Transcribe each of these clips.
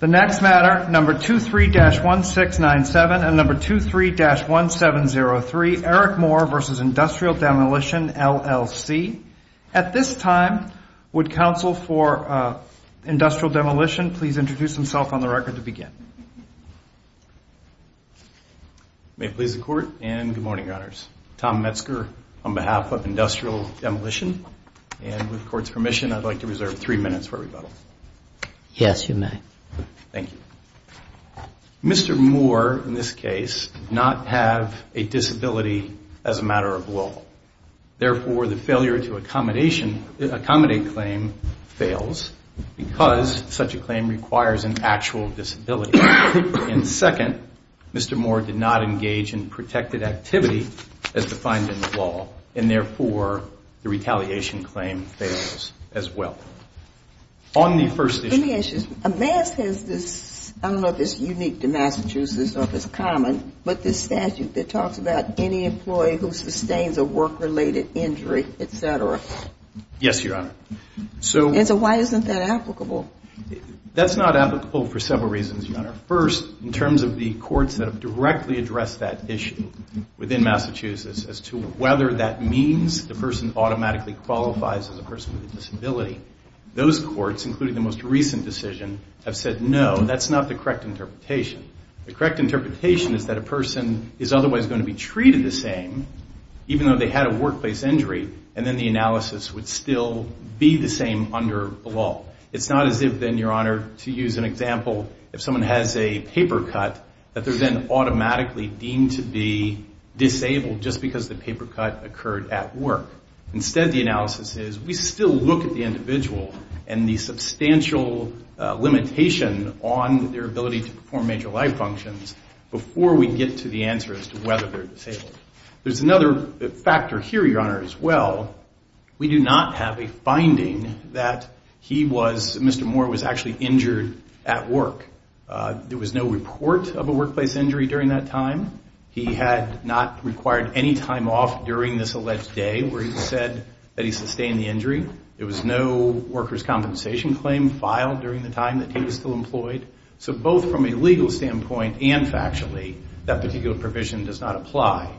The next matter, number 23-1697 and number 23-1703, Eric Moore v. Industrial Demolition LLC. At this time, would counsel for Industrial Demolition please introduce himself on the record to begin. May it please the Court and good morning, Your Honors. Tom Metzger on behalf of Industrial Demolition and with the Court's permission, I'd like to reserve three minutes for rebuttal. Yes, you may. Thank you. Mr. Moore, in this case, did not have a disability as a matter of law. Therefore, the failure to accommodate claim fails because such a claim requires an actual disability. And second, Mr. Moore did not engage in protected activity as defined in the law. And therefore, the retaliation claim fails as well. On the first issue. Let me ask you something. I don't know if it's unique to Massachusetts or if it's common, but this statute that talks about any employee who sustains a work-related injury, et cetera. Yes, Your Honor. And so why isn't that issue within Massachusetts as to whether that means the person automatically qualifies as a person with a disability? Those courts, including the most recent decision, have said no, that's not the correct interpretation. The correct interpretation is that a person is otherwise going to be treated the same, even though they had a workplace injury. And then the analysis would still be the same under the law. It's not as if then, Your Honor, to use an example of a paper cut, that they're then automatically deemed to be disabled just because the paper cut occurred at work. Instead, the analysis is we still look at the individual and the substantial limitation on their ability to perform major life functions before we get to the answer as to whether they're disabled. There's another factor here, Your Honor, as well. We do not have a person injured at work. There was no report of a workplace injury during that time. He had not required any time off during this alleged day where he said that he sustained the injury. There was no worker's compensation claim filed during the time that he was still employed. So both from a legal standpoint and factually, that particular provision does not apply.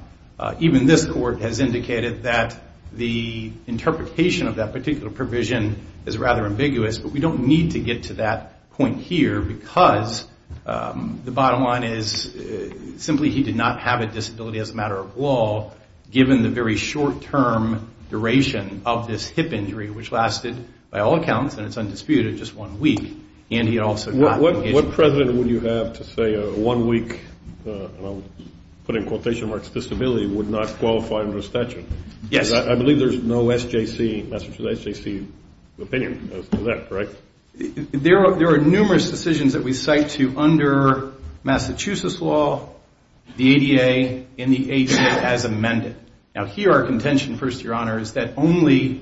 Even this court has indicated that the interpretation of that particular provision is rather ambiguous. But we don't need to get to that point here, because the bottom line is simply he did not have a disability as a matter of law, given the very short-term duration of this hip injury, which lasted by all accounts, and it's undisputed, just one week. And he also got litigation. Mr. President, would you have to say a one-week, and I'll put in quotation marks, disability would not qualify under a statute? Yes. I believe there's no SJC, Massachusetts SJC opinion as to that, correct? There are numerous decisions that we cite to under Massachusetts law, the ADA, and the ADA as amended. Now, here our contention, first, Your Honor, is that only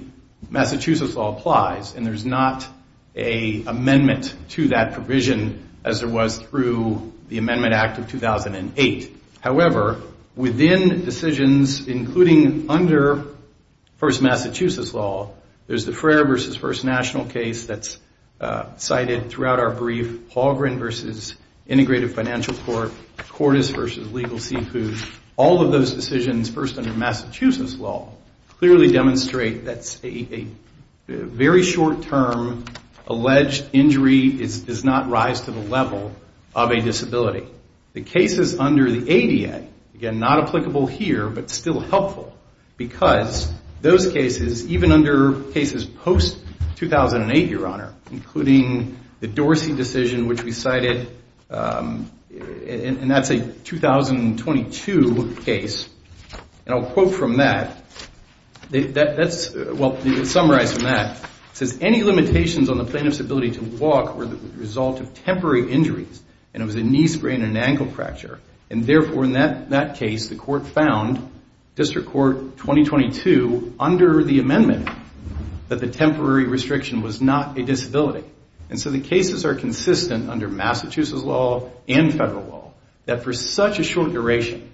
there was a amendment to that provision as there was through the Amendment Act of 2008. However, within decisions, including under First Massachusetts law, there's the Frayer v. First National case that's cited throughout our brief, Haugran v. Integrative Financial Court, Cordes v. Legal Secute. All of those decisions first under the ADA, the alleged injury does not rise to the level of a disability. The cases under the ADA, again, not applicable here, but still helpful, because those cases, even under cases post-2008, Your Honor, including the Dorsey decision, which we cited, and that's a 2022 case, and I'll quote from that. Well, to summarize from that, it says any limitations on the plaintiff's ability to walk were the result of temporary injuries, and it was a knee sprain and ankle fracture, and therefore, in that case, the court found, District Court 2022, under the amendment, that the temporary restriction was not a disability. And so the cases are consistent under Massachusetts law and federal law that for such a short duration,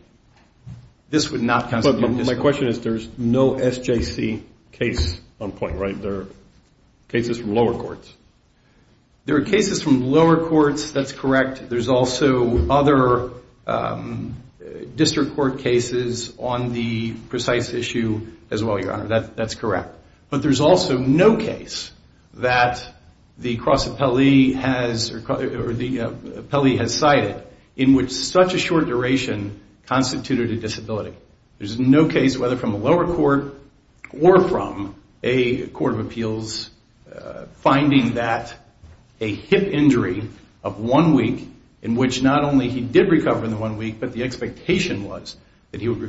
this would not constitute a disability. But my question is, there's no SJC case on point, right? There are cases from lower courts. There are cases from lower courts, that's correct. There's also other District Court cases on the precise issue as well, Your Honor, that's correct. But there's also no case that the cross appellee has cited in which such a short duration constituted a disability. There's no case, whether from a lower court or from a court of appeals, finding that a hip injury of one week, in which not only he did recover in the one week, but the expectation was that he would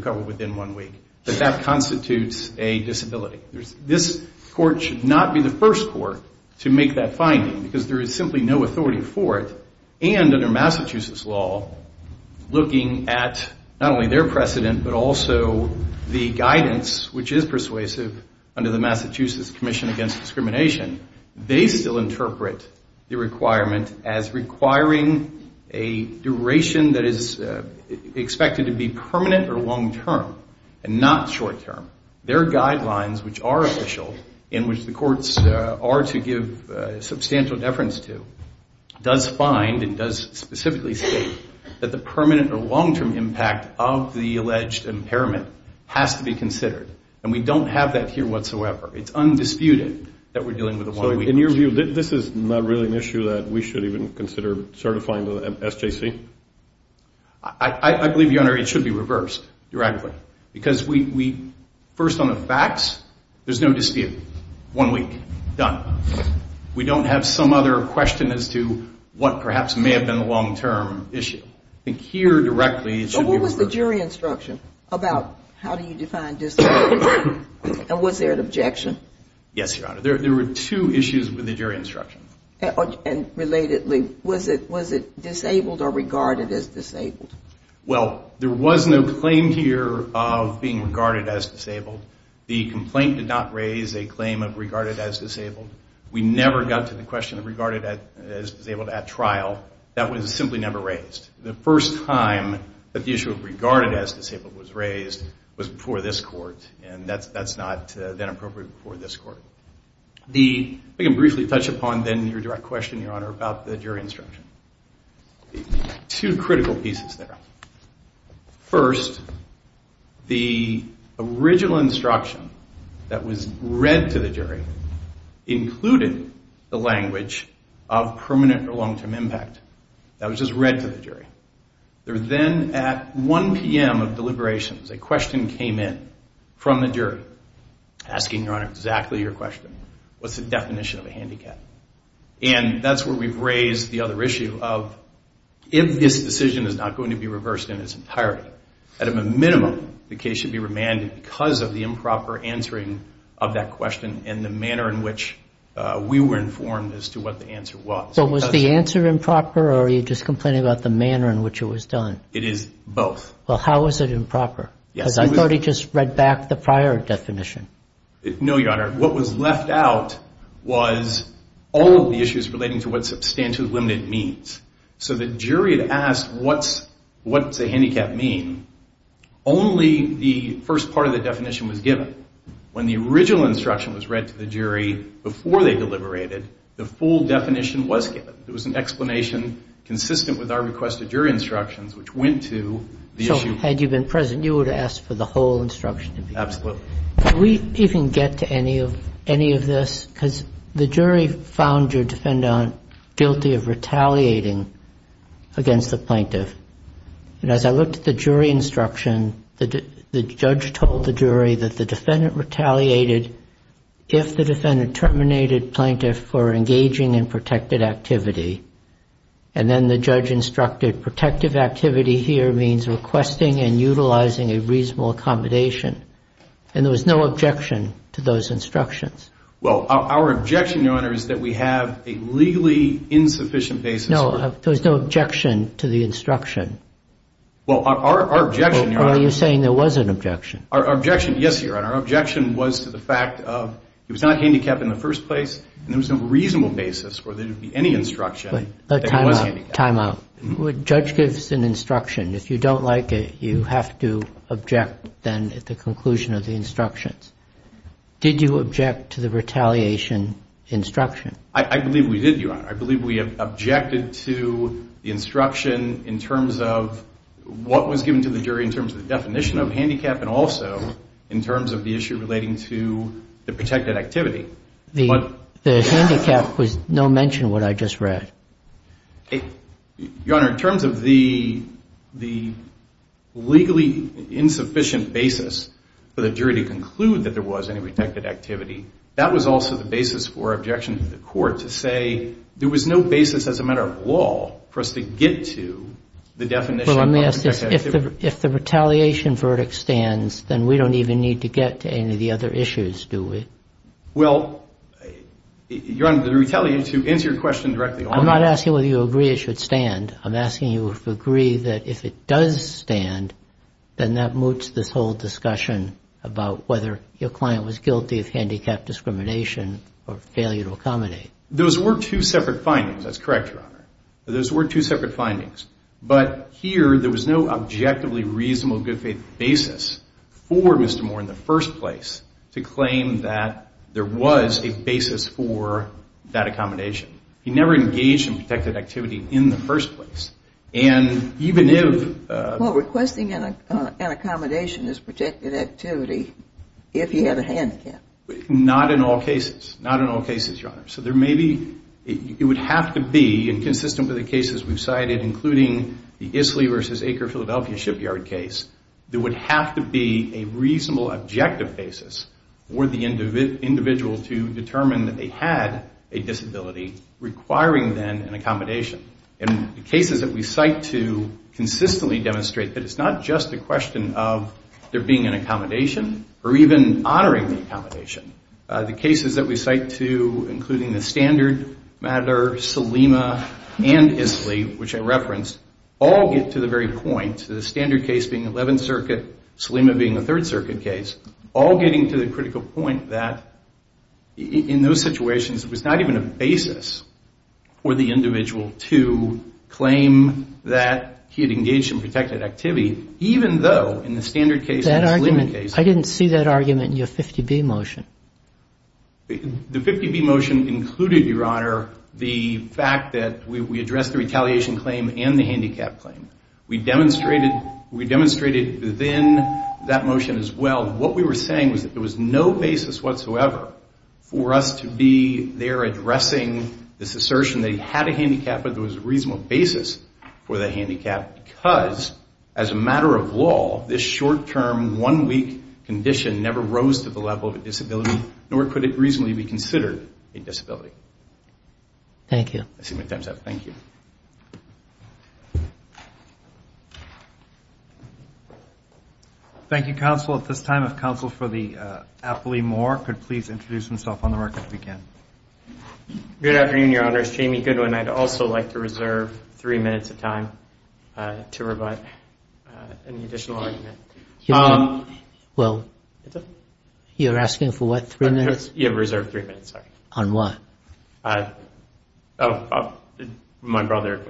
make that finding, because there is simply no authority for it, and under Massachusetts law, looking at not only their precedent, but also the guidance, which is persuasive under the Massachusetts Commission Against Discrimination, they still interpret the requirement as requiring a duration that is expected to be permanent or long-term, and not short-term. Their guidelines, which are official, in which the courts are to give substantial deference to, does find and does specifically state that the permanent or long-term impact of the alleged impairment has to be considered. And we don't have that here whatsoever. It's undisputed that we're dealing with a one-week issue. So in your view, this is not really an issue that we should even consider certifying to the SJC? I believe, Your Honor, it should be reversed, directly. Because we, first on the facts, there's no dispute. One week. Done. We don't have some other question as to what perhaps may have been a long-term issue. I think here, directly, it should be reversed. But what was the jury instruction about how do you define disability? And was there an objection? Yes, Your Honor. There were two issues with the jury instruction. And relatedly, was it disabled or regarded as disabled? Well, there was no claim here of being regarded as disabled. The complaint did not raise a claim of regarded as disabled. We never got to the question of regarded as disabled at trial. That was simply never raised. The first time that the issue of regarded as disabled was raised was before this court. And that's not, then, appropriate before this court. We can briefly touch upon, then, your direct question, Your Honor, about the jury instruction. Two critical pieces there. First, the original instruction that was read to the jury included the language of permanent or long-term impact. That was just read to the jury. There, then, at 1 p.m. of deliberations, a question came in from the jury asking, Your Honor, exactly your question. What's the definition of a handicap? And that's where we've raised the other issue of if this decision is not going to be reversed in its entirety, at a minimum, the case should be remanded because of the improper answering of that question and the manner in which we were informed as to what the answer was. But was the answer improper, or are you just complaining about the manner in which it was done? It is both. Well, how was it improper? Because I thought he just read back the prior definition. No, Your Honor. What was left out was all of the issues relating to what substantial and limited means. So the jury had asked, What's a handicap mean? Only the first part of the definition was given. When the original instruction was read to the jury before they deliberated, the full definition was given. It was an explanation consistent with our request of jury instructions, which went to the issue. So had you been present, you would have asked for the whole instruction to be given. Absolutely. Did we even get to any of this? Because the jury found your defendant guilty of retaliating against the plaintiff. And as I looked at the jury instruction, the judge told the jury that the defendant retaliated if the defendant terminated plaintiff for engaging in protected activity. And then the judge instructed protective activity here means requesting and utilizing a reasonable accommodation. And there was no objection to those instructions. Well, our objection, Your Honor, is that we have a legally insufficient basis. No, there was no objection to the instruction. Well, our objection, Your Honor. Well, are you saying there was an objection? Our objection, yes, Your Honor. Our objection was to the fact of it was not handicapped in the first place, and there was no reasonable basis for there to be any instruction that it was handicapped. Timeout. Timeout. The judge gives an instruction. If you don't like it, you have to object then at the conclusion of the instructions. Did you object to the retaliation instruction? I believe we did, Your Honor. I believe we objected to the instruction in terms of what was given to the jury in terms of the definition of handicap and also in terms of the issue relating to the protected activity. The handicap was no mention in what I just read. Your Honor, in terms of the legally insufficient basis for the jury to conclude that there was any protected activity, that was also the basis for objection to the court to say there was no basis as a matter of law for us to get to the definition of protected activity. Well, let me ask this. If the retaliation verdict stands, then we don't even need to get to any of the other issues, do we? Well, Your Honor, the retaliation, to answer your question directly. I'm not asking whether you agree it should stand. I'm asking you if you agree that if it does stand, then that moots this whole discussion about whether your client was guilty of handicapped discrimination or failure to accommodate. Those were two separate findings. That's correct, Your Honor. Those were two separate findings. But here, there was no objectively reasonable good faith basis for Mr. Moore in the first place to claim that there was a basis for that accommodation. He never engaged in protected activity in the first place. Well, requesting an accommodation is protected activity if he had a handicap. Not in all cases. Not in all cases, Your Honor. So there may be, it would have to be, and consistent with the cases we've cited, including the Isley v. Acre, Philadelphia shipyard case, there would have to be a reasonable objective basis for the individual to determine that they had a disability requiring then an accommodation. And the cases that we cite to consistently demonstrate that it's not just a question of there being an accommodation or even honoring the accommodation. The cases that we cite to, including the standard matter, Selima and Isley, which I referenced, all get to the very point, the standard case being 11th Circuit, Selima being a 3rd Circuit case, all getting to the critical point that in those situations, it was not even a basis for the individual to claim that he had engaged in protected activity, even though in the standard case and the Selima case. I didn't see that argument in your 50B motion. The 50B motion included, Your Honor, the fact that we addressed the retaliation claim and the handicap claim. We demonstrated within that motion as well what we were saying was that there was no basis whatsoever for us to be there and as a matter of law, this short-term, one-week condition never rose to the level of a disability, nor could it reasonably be considered a disability. Thank you. Thank you, counsel. At this time, if counsel for the appellee, Moore, could please introduce himself on the record. Good afternoon, Your Honors. Jamie Goodwin. I'd also like to reserve three minutes of time to provide an additional argument. Well, you're asking for what, three minutes? You have reserved three minutes, sorry. On what? My brother,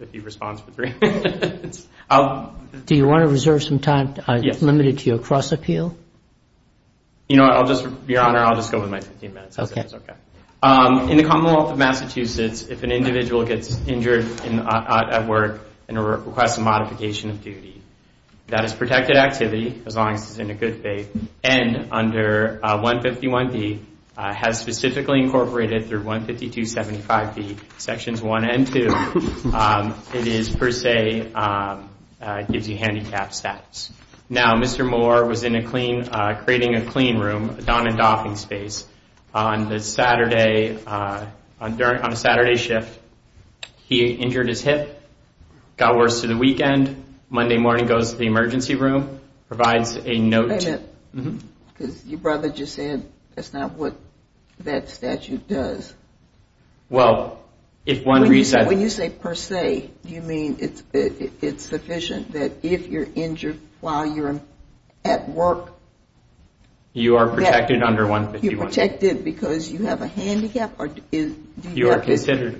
if he responds for three minutes. Do you want to reserve some time limited to your cross-appeal? Your Honor, I'll just go with my 15 minutes. In the Commonwealth of Massachusetts, if an individual gets injured at work and requests a modification of duty, that is protected activity, as long as it's in a good faith, and under 151B, as specifically incorporated through 152.75B, Sections 1 and 2, it is per se, gives you handicapped status. Now, Mr. Moore was in a clean, creating a clean room, a don and doffing space, on a Saturday shift, he injured his hip, got worse to the weekend, Monday morning goes to the emergency room, provides a note. Because your brother just said that's not what that statute does. When you say per se, do you mean it's sufficient that if you're injured while you're at work? You are protected under 151B. Are you protected because you have a handicap? Or do you have to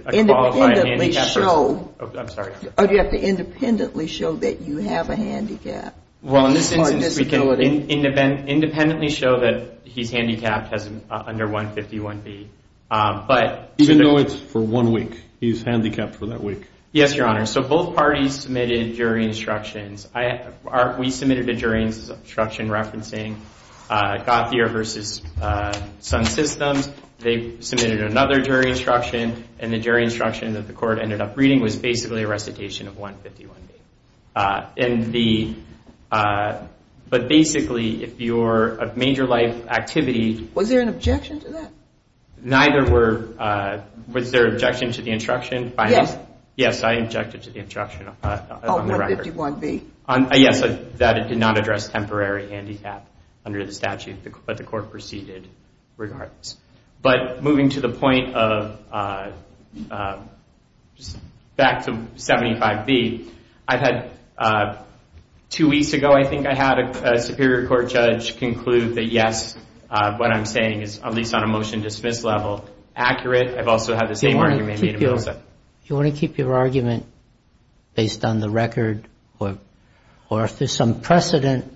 independently show that you have a handicap? Independently show that he's handicapped under 151B. Even though it's for one week, he's handicapped for that week. Yes, Your Honor. So both parties submitted jury instructions. We submitted a jury instruction referencing Gothier v. Sun Systems. They submitted another jury instruction, and the jury instruction that the court ended up reading was basically a recitation of 151B. But basically, if you're a major life activity... Was there an objection to that? Neither were... Was there an objection to the instruction? Yes. Yes, I objected to the instruction on the record. On 151B. Yes, that did not address temporary handicap under the statute, but the court proceeded regardless. But moving to the point of... Back to 75B, I've had... Two weeks ago, I think, I had a Superior Court judge conclude that yes, what I'm saying is, at least on a motion-to-dismiss level, accurate. I've also had the same argument made in Billson. Do you want to keep your argument based on the record? Or if there's some precedent,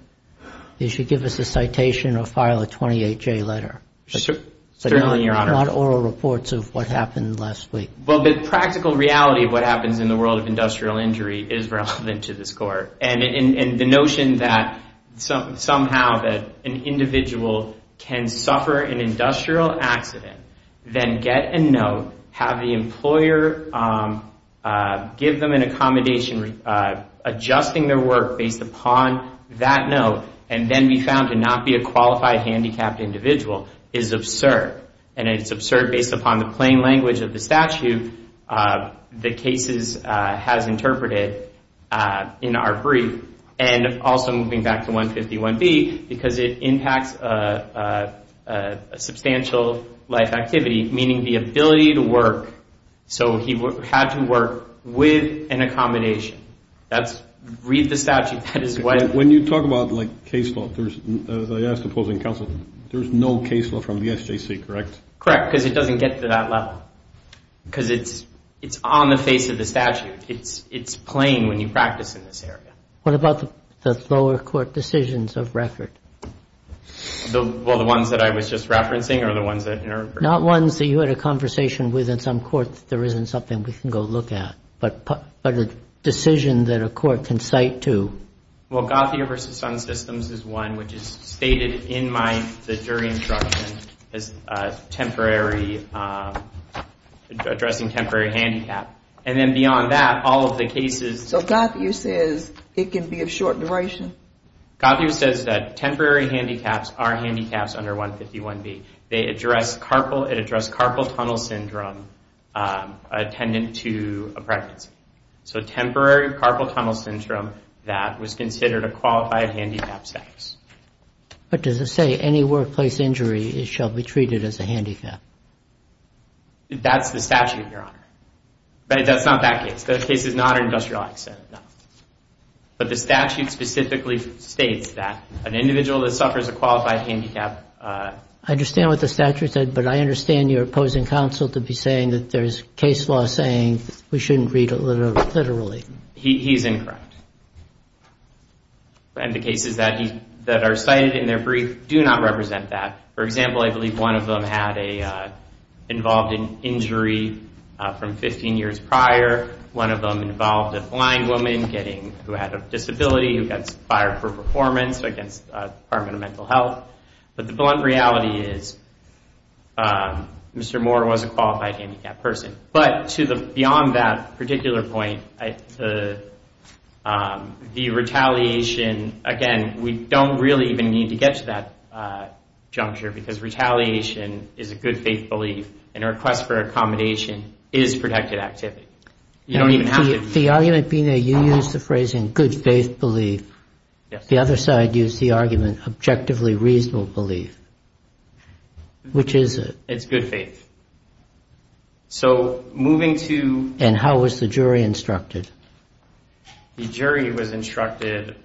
you should give us a citation or file a 28J letter. Certainly, Your Honor. Not oral reports of what happened last week. Well, the practical reality of what happens in the world of industrial injury is relevant to this court. And the notion that somehow that an individual can suffer an industrial accident, then get a note, have the employer give them an accommodation, adjusting their work based upon that note, and then be found to not be a qualified handicapped individual is absurd. And it's absurd based upon the plain language of the statute the cases has interpreted in our brief. And also moving back to 151B, because it impacts a substantial life activity, meaning the ability to work. So he had to work with an accommodation. Read the statute. That is what... When you talk about, like, case law, as I asked the opposing counsel, there's no case law from the SJC, correct? Correct, because it doesn't get to that level. Because it's on the face of the statute. It's plain when you practice in this area. What about the lower court decisions of record? Well, the ones that I was just referencing or the ones that... Not ones that you had a conversation with in some court that there isn't something we can go look at, but a decision that a court can cite to. Well, Gothia v. Sun Systems is one, which is stated in the jury instruction as addressing temporary handicap. And then beyond that, all of the cases... So Gothia says it can be of short duration? Gothia says that temporary handicaps are handicaps under 151B. It addressed carpal tunnel syndrome attendant to a pregnancy. So temporary carpal tunnel syndrome that was considered a qualified handicap status. But does it say any workplace injury shall be treated as a handicap? That's the statute, Your Honor. But that's not that case. That case is not an industrial accident, no. But the statute specifically states that an individual that suffers a qualified handicap... I understand what the statute said, but I understand your opposing counsel to be saying that there's case law saying we shouldn't read it literally. He's incorrect. And the cases that are cited in their brief do not represent that. For example, I believe one of them involved an injury from 15 years prior. One of them involved a blind woman who had a disability who got fired for performance against the Department of Mental Health. But the blunt reality is Mr. Moore was a qualified handicap person. But beyond that particular point, the retaliation, again, we don't really even need to get to that juncture because retaliation is a good faith belief and a request for accommodation is protected activity. You don't even have to... The argument being that you used the phrase in good faith belief, the other side used the argument objectively reasonable belief. Which is it? It's good faith. So moving to... And how was the jury instructed? The jury was instructed...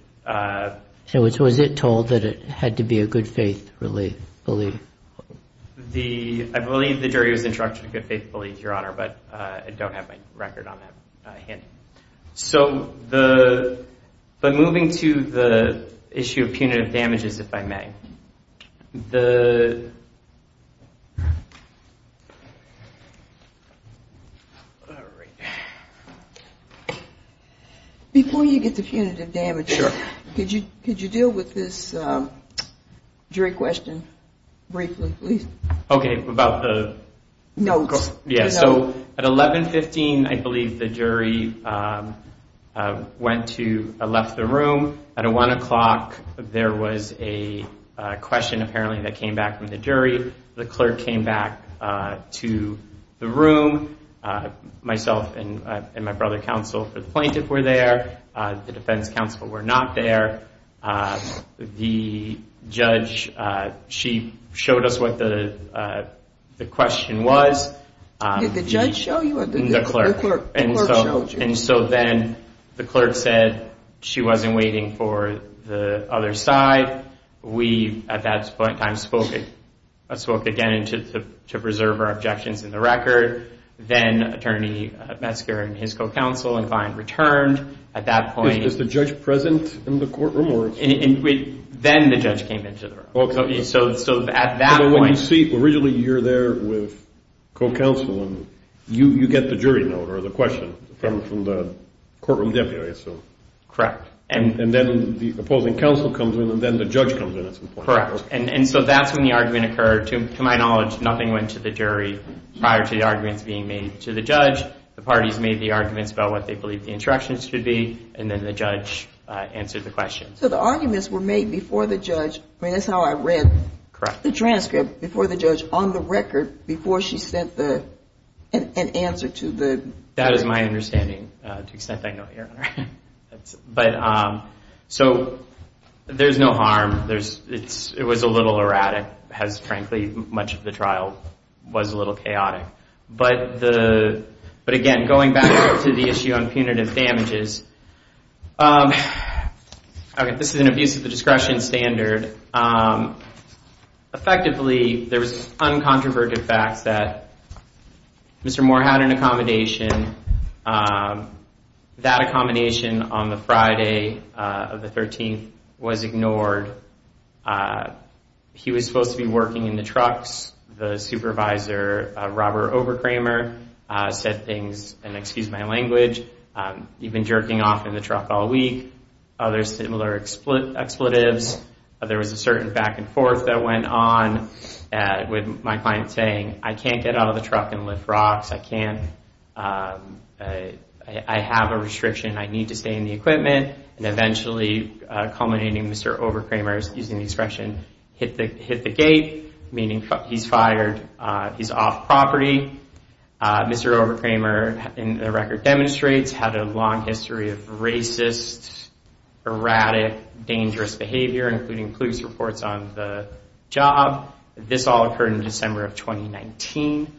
So was it told that it had to be a good faith belief? I believe the jury was instructed in good faith belief, Your Honor, but I don't have my record on that handy. So the... But moving to the issue of punitive damages, if I may. The... All right. Before you get to punitive damages... Sure. Could you deal with this jury question briefly, please? Okay, about the... Notes. Yeah, so at 1115, I believe the jury went to, left the room. At 1 o'clock, there was a question apparently that came back from the jury. The clerk came back to the room. Myself and my brother counsel for the plaintiff were there. The defense counsel were not there. The judge, she showed us what the question was. Did the judge show you or the clerk showed you? And so then the clerk said she wasn't waiting for the other side. We, at that point in time, spoke again to preserve our objections in the record. Then Attorney Metzger and his co-counsel and client returned. At that point... Was the judge present in the courtroom? Then the judge came into the room. So at that point... Originally, you're there with co-counsel. You get the jury note or the question from the courtroom deputy, I assume. Correct. And then the opposing counsel comes in, and then the judge comes in at some point. Correct. And so that's when the argument occurred. To my knowledge, nothing went to the jury prior to the arguments being made to the judge. The parties made the arguments about what they believed the instructions should be, and then the judge answered the question. So the arguments were made before the judge. I mean, that's how I read the transcript, before the judge, on the record, before she sent an answer to the... That is my understanding, to the extent I know it, Your Honor. But so there's no harm. It was a little erratic, as, frankly, much of the trial was a little chaotic. But again, going back to the issue on punitive damages, okay, this is an abuse of the discretion standard. Effectively, there was uncontroverted facts that Mr. Moore had an accommodation. That accommodation on the Friday of the 13th was ignored. He was supposed to be working in the trucks. The supervisor, Robert Overkramer, said things, and excuse my language, you've been jerking off in the truck all week. Other similar expletives. There was a certain back and forth that went on with my client saying, I can't get out of the truck and lift rocks. I can't. I have a restriction. I need to stay in the equipment. And eventually, culminating, Mr. Overkramer, using the expression, hit the gate, meaning he's fired, he's off property. Mr. Overkramer, the record demonstrates, had a long history of racist, erratic, dangerous behavior, including police reports on the job. This all occurred in December of 2019.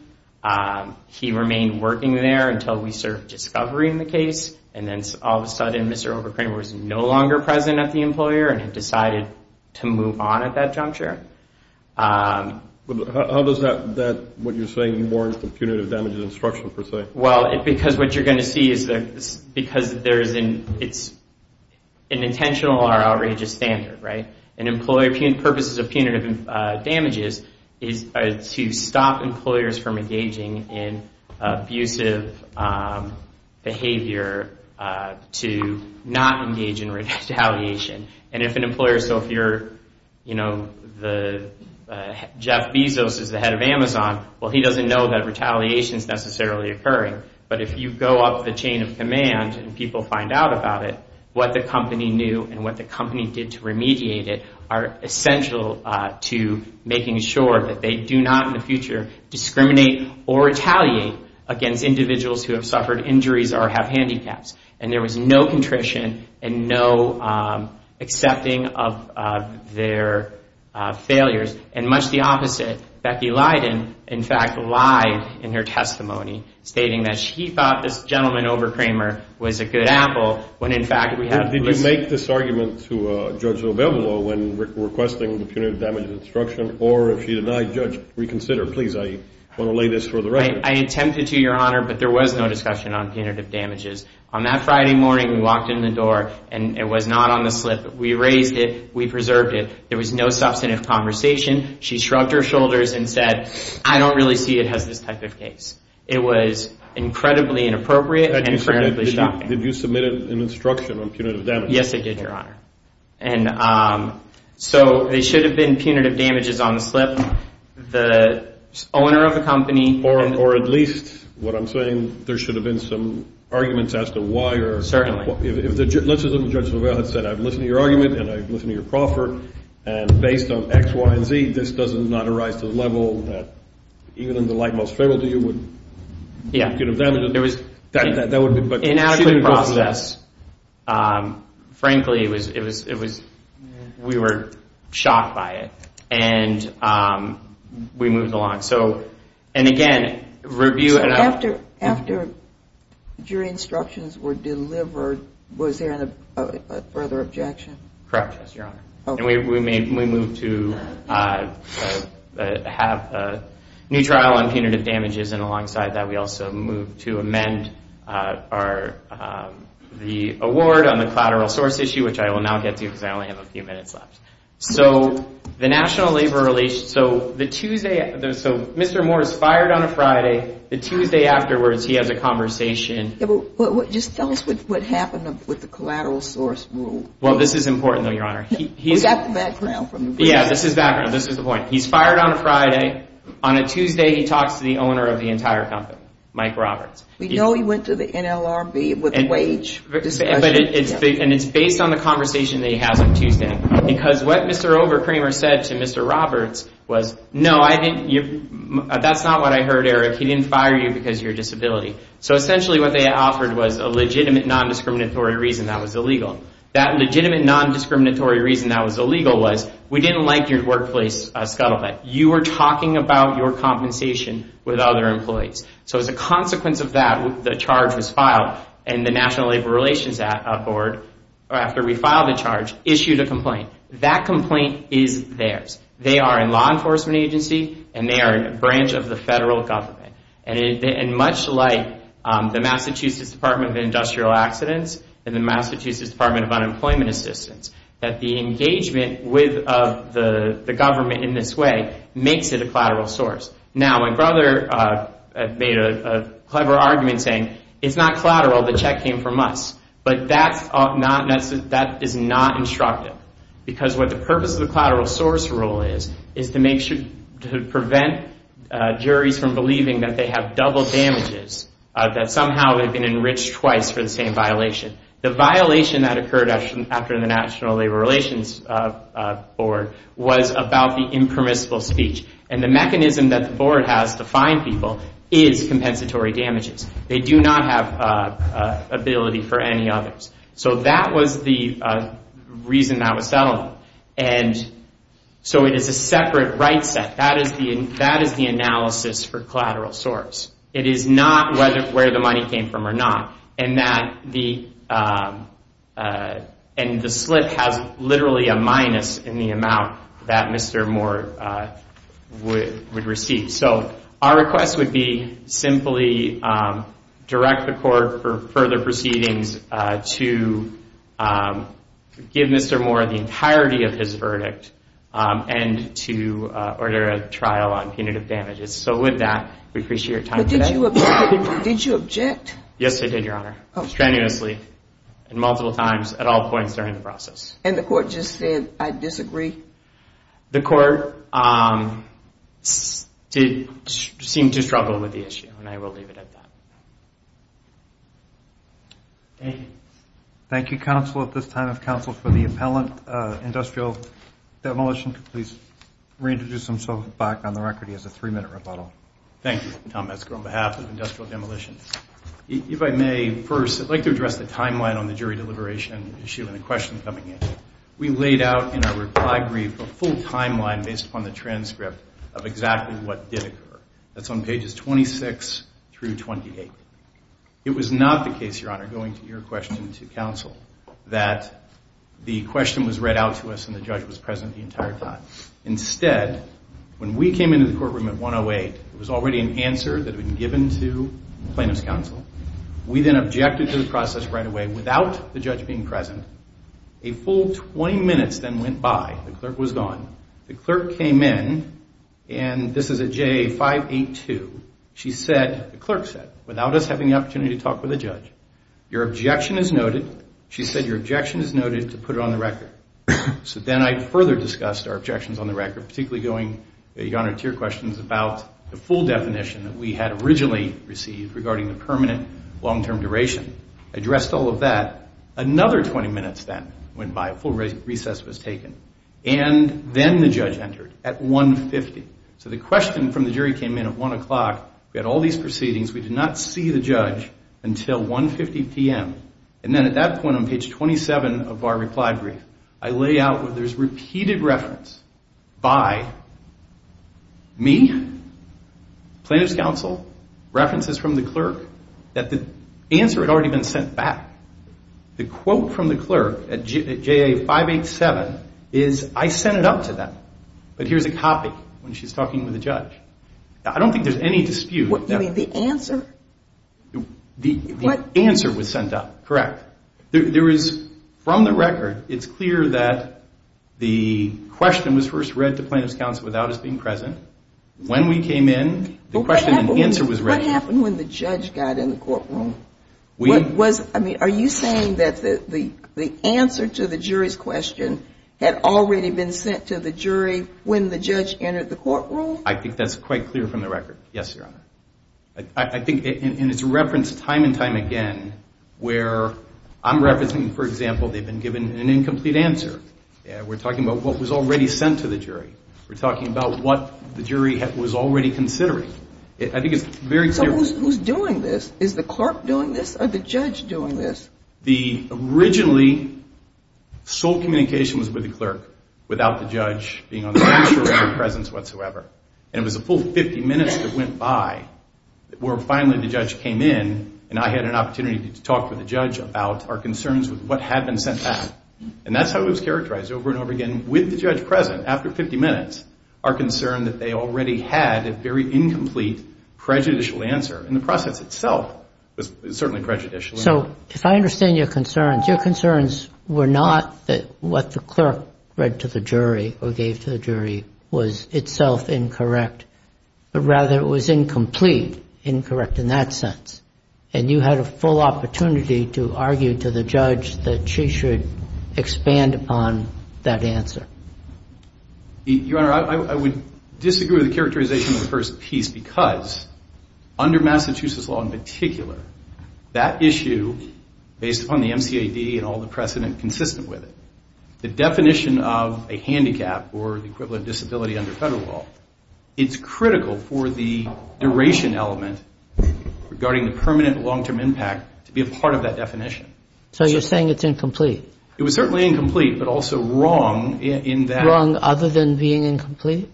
He remained working there until we served discovery in the case. And then all of a sudden, Mr. Overkramer was no longer present at the employer and had decided to move on at that juncture. How does that, what you're saying, warrant the punitive damages instruction, per se? Well, because what you're going to see is that because there's an intentional or outrageous standard, right? And employer purposes of punitive damages is to stop employers from engaging in abusive behavior to not engage in retaliation. And if an employer, so if you're, you know, Jeff Bezos is the head of Amazon, well, he doesn't know that retaliation is necessarily occurring. But if you go up the chain of command and people find out about it, what the company knew and what the company did to remediate it are essential to making sure that they do not in the future discriminate or retaliate against individuals who have suffered injuries or have handicaps. And there was no contrition and no accepting of their failures. And much the opposite, Becky Lydon, in fact, lied in her testimony, stating that she thought this gentleman, Overkramer, was a good apple when, in fact, we have this. Did you make this argument to Judge Lobello when requesting the punitive damages instruction? Or if she denied, Judge, reconsider. Please, I want to lay this for the record. I attempted to, Your Honor, but there was no discussion on punitive damages on that Friday morning. We walked in the door and it was not on the slip. We erased it. We preserved it. There was no substantive conversation. She shrugged her shoulders and said, I don't really see it as this type of case. It was incredibly inappropriate and incredibly shocking. Did you submit an instruction on punitive damages? Yes, I did, Your Honor. And so there should have been punitive damages on the slip. The owner of the company. Or at least, what I'm saying, there should have been some arguments as to why. Certainly. Let's assume Judge Lobello had said, I've listened to your argument and I've listened to your proffer, and based on X, Y, and Z, this does not arise to the level that even in the light most favorable to you would get a punitive damages. In actual process, frankly, we were shocked by it, and we moved along. And again, review. After your instructions were delivered, was there a further objection? Correct, Your Honor. And we moved to have a new trial on punitive damages, and alongside that we also moved to amend the award on the collateral source issue, which I will now get to because I only have a few minutes left. So the National Labor Relations, so the Tuesday, so Mr. Moore is fired on a Friday. The Tuesday afterwards he has a conversation. Just tell us what happened with the collateral source rule. Well, this is important though, Your Honor. We got the background. Yeah, this is background. This is the point. He's fired on a Friday. On a Tuesday he talks to the owner of the entire company, Mike Roberts. We know he went to the NLRB with a wage discussion. And it's based on the conversation that he has on Tuesday because what Mr. Overkramer said to Mr. Roberts was, no, that's not what I heard, Eric. He didn't fire you because of your disability. So essentially what they offered was a legitimate non-discriminatory reason that was illegal. That legitimate non-discriminatory reason that was illegal was, we didn't like your workplace scuttlebutt. You were talking about your compensation with other employees. So as a consequence of that, the charge was filed, and the National Labor Relations Board, after we filed the charge, issued a complaint. That complaint is theirs. They are a law enforcement agency, and they are a branch of the federal government. And much like the Massachusetts Department of Industrial Accidents and the Massachusetts Department of Unemployment Assistance, that the engagement with the government in this way makes it a collateral source. Now, my brother made a clever argument saying, it's not collateral, the check came from us. But that is not instructive. Because what the purpose of the collateral source rule is, is to prevent juries from believing that they have double damages, that somehow they've been enriched twice for the same violation. The violation that occurred after the National Labor Relations Board was about the impermissible speech. And the mechanism that the board has to fine people is compensatory damages. They do not have ability for any others. So that was the reason that was settled. And so it is a separate right set. That is the analysis for collateral source. It is not where the money came from or not. And the slip has literally a minus in the amount that Mr. Moore would receive. So our request would be simply direct the court for further proceedings to give Mr. Moore the entirety of his verdict and to order a trial on punitive damages. So with that, we appreciate your time today. But did you object? Yes, I did, Your Honor. Strenuously and multiple times at all points during the process. And the court just said, I disagree? The court seemed to struggle with the issue. And I will leave it at that. Thank you. Thank you, counsel, at this time of counsel, for the appellant industrial demolition. Please reintroduce himself back on the record. He has a three-minute rebuttal. Thank you, Tom Metzger, on behalf of industrial demolition. If I may, first, I'd like to address the timeline on the jury deliberation issue and the question coming in. We laid out in our reply brief a full timeline based upon the transcript of exactly what did occur. That's on pages 26 through 28. It was not the case, Your Honor, going to your question to counsel, that the question was read out to us and the judge was present the entire time. Instead, when we came into the courtroom at 108, it was already an answer that had been given to plaintiff's counsel. We then objected to the process right away without the judge being present. A full 20 minutes then went by. The clerk was gone. The clerk came in, and this is at JA 582. She said, the clerk said, without us having the opportunity to talk with the judge, your objection is noted. She said your objection is noted to put it on the record. So then I further discussed our objections on the record, particularly going, Your Honor, to your questions about the full definition that we had originally received regarding the permanent long-term duration, addressed all of that. Another 20 minutes then went by. A full recess was taken. And then the judge entered at 150. So the question from the jury came in at 1 o'clock. We had all these proceedings. We did not see the judge until 150 p.m. And then at that point on page 27 of our reply brief, I lay out where there's repeated reference by me, plaintiff's counsel, references from the clerk that the answer had already been sent back. The quote from the clerk at JA 587 is, I sent it up to them, but here's a copy when she's talking with the judge. I don't think there's any dispute. You mean the answer? The answer was sent up, correct. There is, from the record, it's clear that the question was first read to plaintiff's counsel without us being present. When we came in, the question and answer was read. What happened when the judge got in the courtroom? Are you saying that the answer to the jury's question had already been sent to the jury when the judge entered the courtroom? I think that's quite clear from the record, yes, Your Honor. I think it's referenced time and time again where I'm referencing, for example, they've been given an incomplete answer. We're talking about what was already sent to the jury. We're talking about what the jury was already considering. I think it's very clear. So who's doing this? Is the clerk doing this or the judge doing this? The originally sole communication was with the clerk without the judge being on the bench or in their presence whatsoever. And it was a full 50 minutes that went by where finally the judge came in and I had an opportunity to talk with the judge about our concerns with what had been sent back. And that's how it was characterized over and over again, with the judge present after 50 minutes, our concern that they already had a very incomplete prejudicial answer. And the process itself was certainly prejudicial. So if I understand your concerns, your concerns were not that what the clerk read to the jury or gave to the jury was itself incorrect, but rather it was incomplete, incorrect in that sense. And you had a full opportunity to argue to the judge that she should expand upon that answer. Your Honor, I would disagree with the characterization of the first piece because under Massachusetts law in particular, that issue based upon the MCAD and all the precedent consistent with it, the definition of a handicap or the equivalent disability under federal law, it's critical for the duration element regarding the permanent long-term impact to be a part of that definition. So you're saying it's incomplete? It was certainly incomplete, but also wrong in that. Wrong other than being incomplete?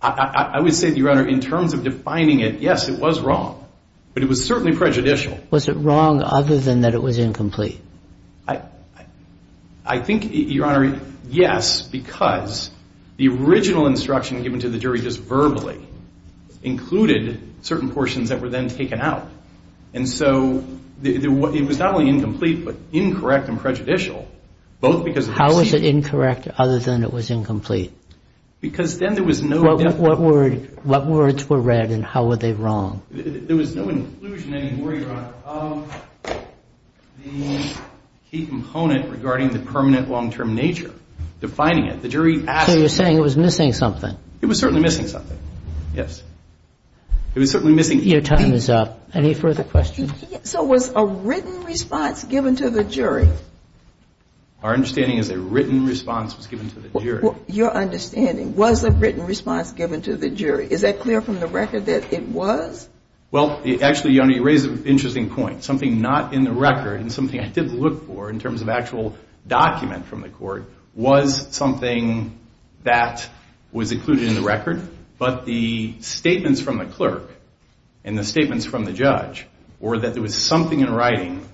I would say, Your Honor, in terms of defining it, yes, it was wrong. But it was certainly prejudicial. Was it wrong other than that it was incomplete? I think, Your Honor, yes, because the original instruction given to the jury just verbally included certain portions that were then taken out. And so it was not only incomplete, but incorrect and prejudicial, both because of the proceedings. How was it incorrect other than it was incomplete? Because then there was no definition. What words were read and how were they wrong? There was no inclusion anymore, Your Honor. The key component regarding the permanent long-term nature, defining it, the jury asked. So you're saying it was missing something? It was certainly missing something, yes. It was certainly missing. Your time is up. Any further questions? So was a written response given to the jury? Our understanding is a written response was given to the jury. Your understanding was a written response given to the jury. Is that clear from the record that it was? Well, actually, Your Honor, you raise an interesting point. Something not in the record and something I did look for in terms of actual document from the court was something that was included in the record, but the statements from the clerk and the statements from the judge were that there was something in writing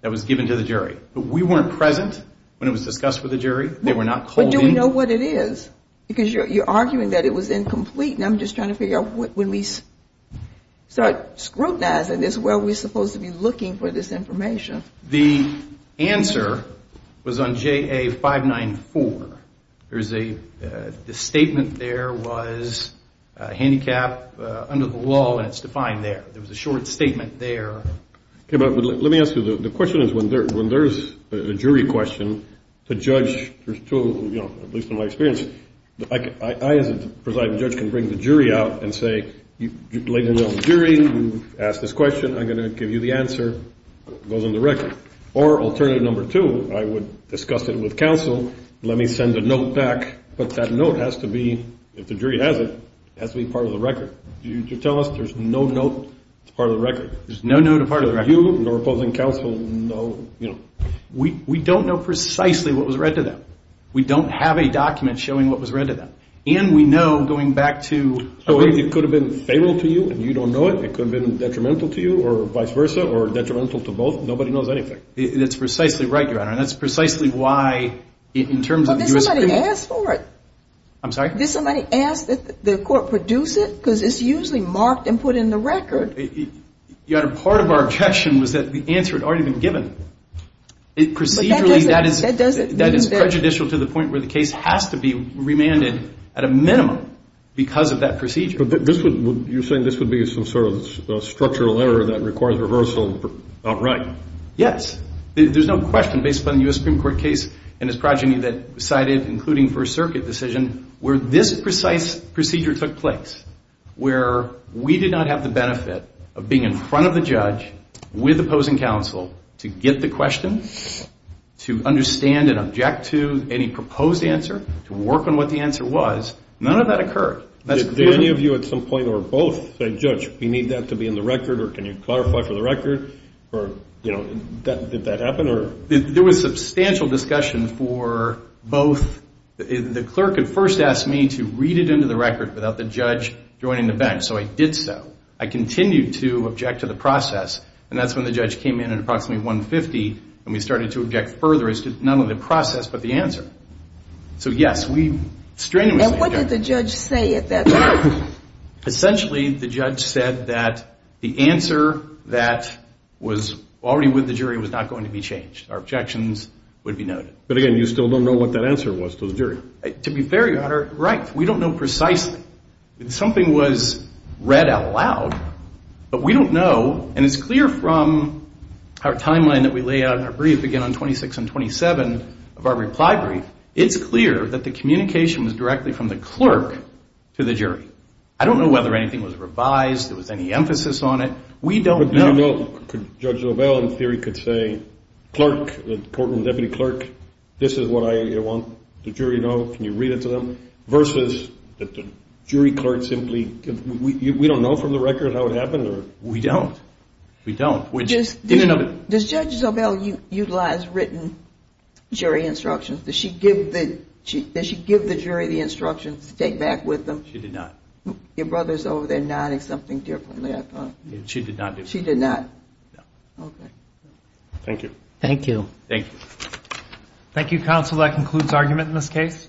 that was given to the jury. But we weren't present when it was discussed with the jury. They were not holding. But do we know what it is? Because you're arguing that it was incomplete, and I'm just trying to figure out when we start scrutinizing this, where are we supposed to be looking for this information? The answer was on JA594. The statement there was handicap under the law, and it's defined there. There was a short statement there. Okay, but let me ask you. The question is when there's a jury question, the judge, at least in my experience, I as a presiding judge can bring the jury out and say, ladies and gentlemen of the jury, you've asked this question. I'm going to give you the answer. It goes on the record. Or alternative number two, I would discuss it with counsel. Let me send a note back. But that note has to be, if the jury has it, it has to be part of the record. Did you tell us there's no note that's part of the record? There's no note and part of the record. You and the opposing counsel know, you know. We don't know precisely what was read to them. We don't have a document showing what was read to them. And we know going back to... It could have been fatal to you and you don't know it. It could have been detrimental to you or vice versa or detrimental to both. Nobody knows anything. That's precisely right, Your Honor. That's precisely why in terms of... But did somebody ask for it? I'm sorry? Did somebody ask that the court produce it? Because it's usually marked and put in the record. Your Honor, part of our objection was that the answer had already been given. Procedurally, that is prejudicial to the point where the case has to be remanded at a minimum because of that procedure. But this would... You're saying this would be some sort of structural error that requires rehearsal. All right. Yes. There's no question based upon the U.S. Supreme Court case and its progeny that cited, including First Circuit decision, where this precise procedure took place, where we did not have the benefit of being in front of the judge with opposing counsel to get the question, to understand and object to any proposed answer, to work on what the answer was. None of that occurred. Did any of you at some point or both say, Judge, we need that to be in the record, or can you clarify for the record? Or, you know, did that happen? There was substantial discussion for both. The clerk had first asked me to read it into the record without the judge joining the bench. So I did so. I continued to object to the process, and that's when the judge came in at approximately 150, and we started to object further as to not only the process but the answer. So, yes, we... And what did the judge say at that point? Essentially, the judge said that the answer that was already with the jury was not going to be changed. Our objections would be noted. But, again, you still don't know what that answer was to the jury. To be fair, Your Honor, right. We don't know precisely. Something was read out loud, but we don't know, and it's clear from our timeline that we lay out in our brief, again, on 26 and 27 of our reply brief, it's clear that the communication was directly from the clerk to the jury. I don't know whether anything was revised, there was any emphasis on it. We don't know. We don't know. Judge Zobel, in theory, could say, clerk, the courtroom deputy clerk, this is what I want the jury to know, can you read it to them, versus that the jury clerk simply, we don't know from the record how it happened or... We don't. We don't. Does Judge Zobel utilize written jury instructions? Does she give the jury the instructions to take back with them? She did not. Your brother's over there nodding something differently, I thought. She did not do that. She did not? No. Okay. Thank you. Thank you. Thank you. Thank you, counsel. That concludes argument in this case.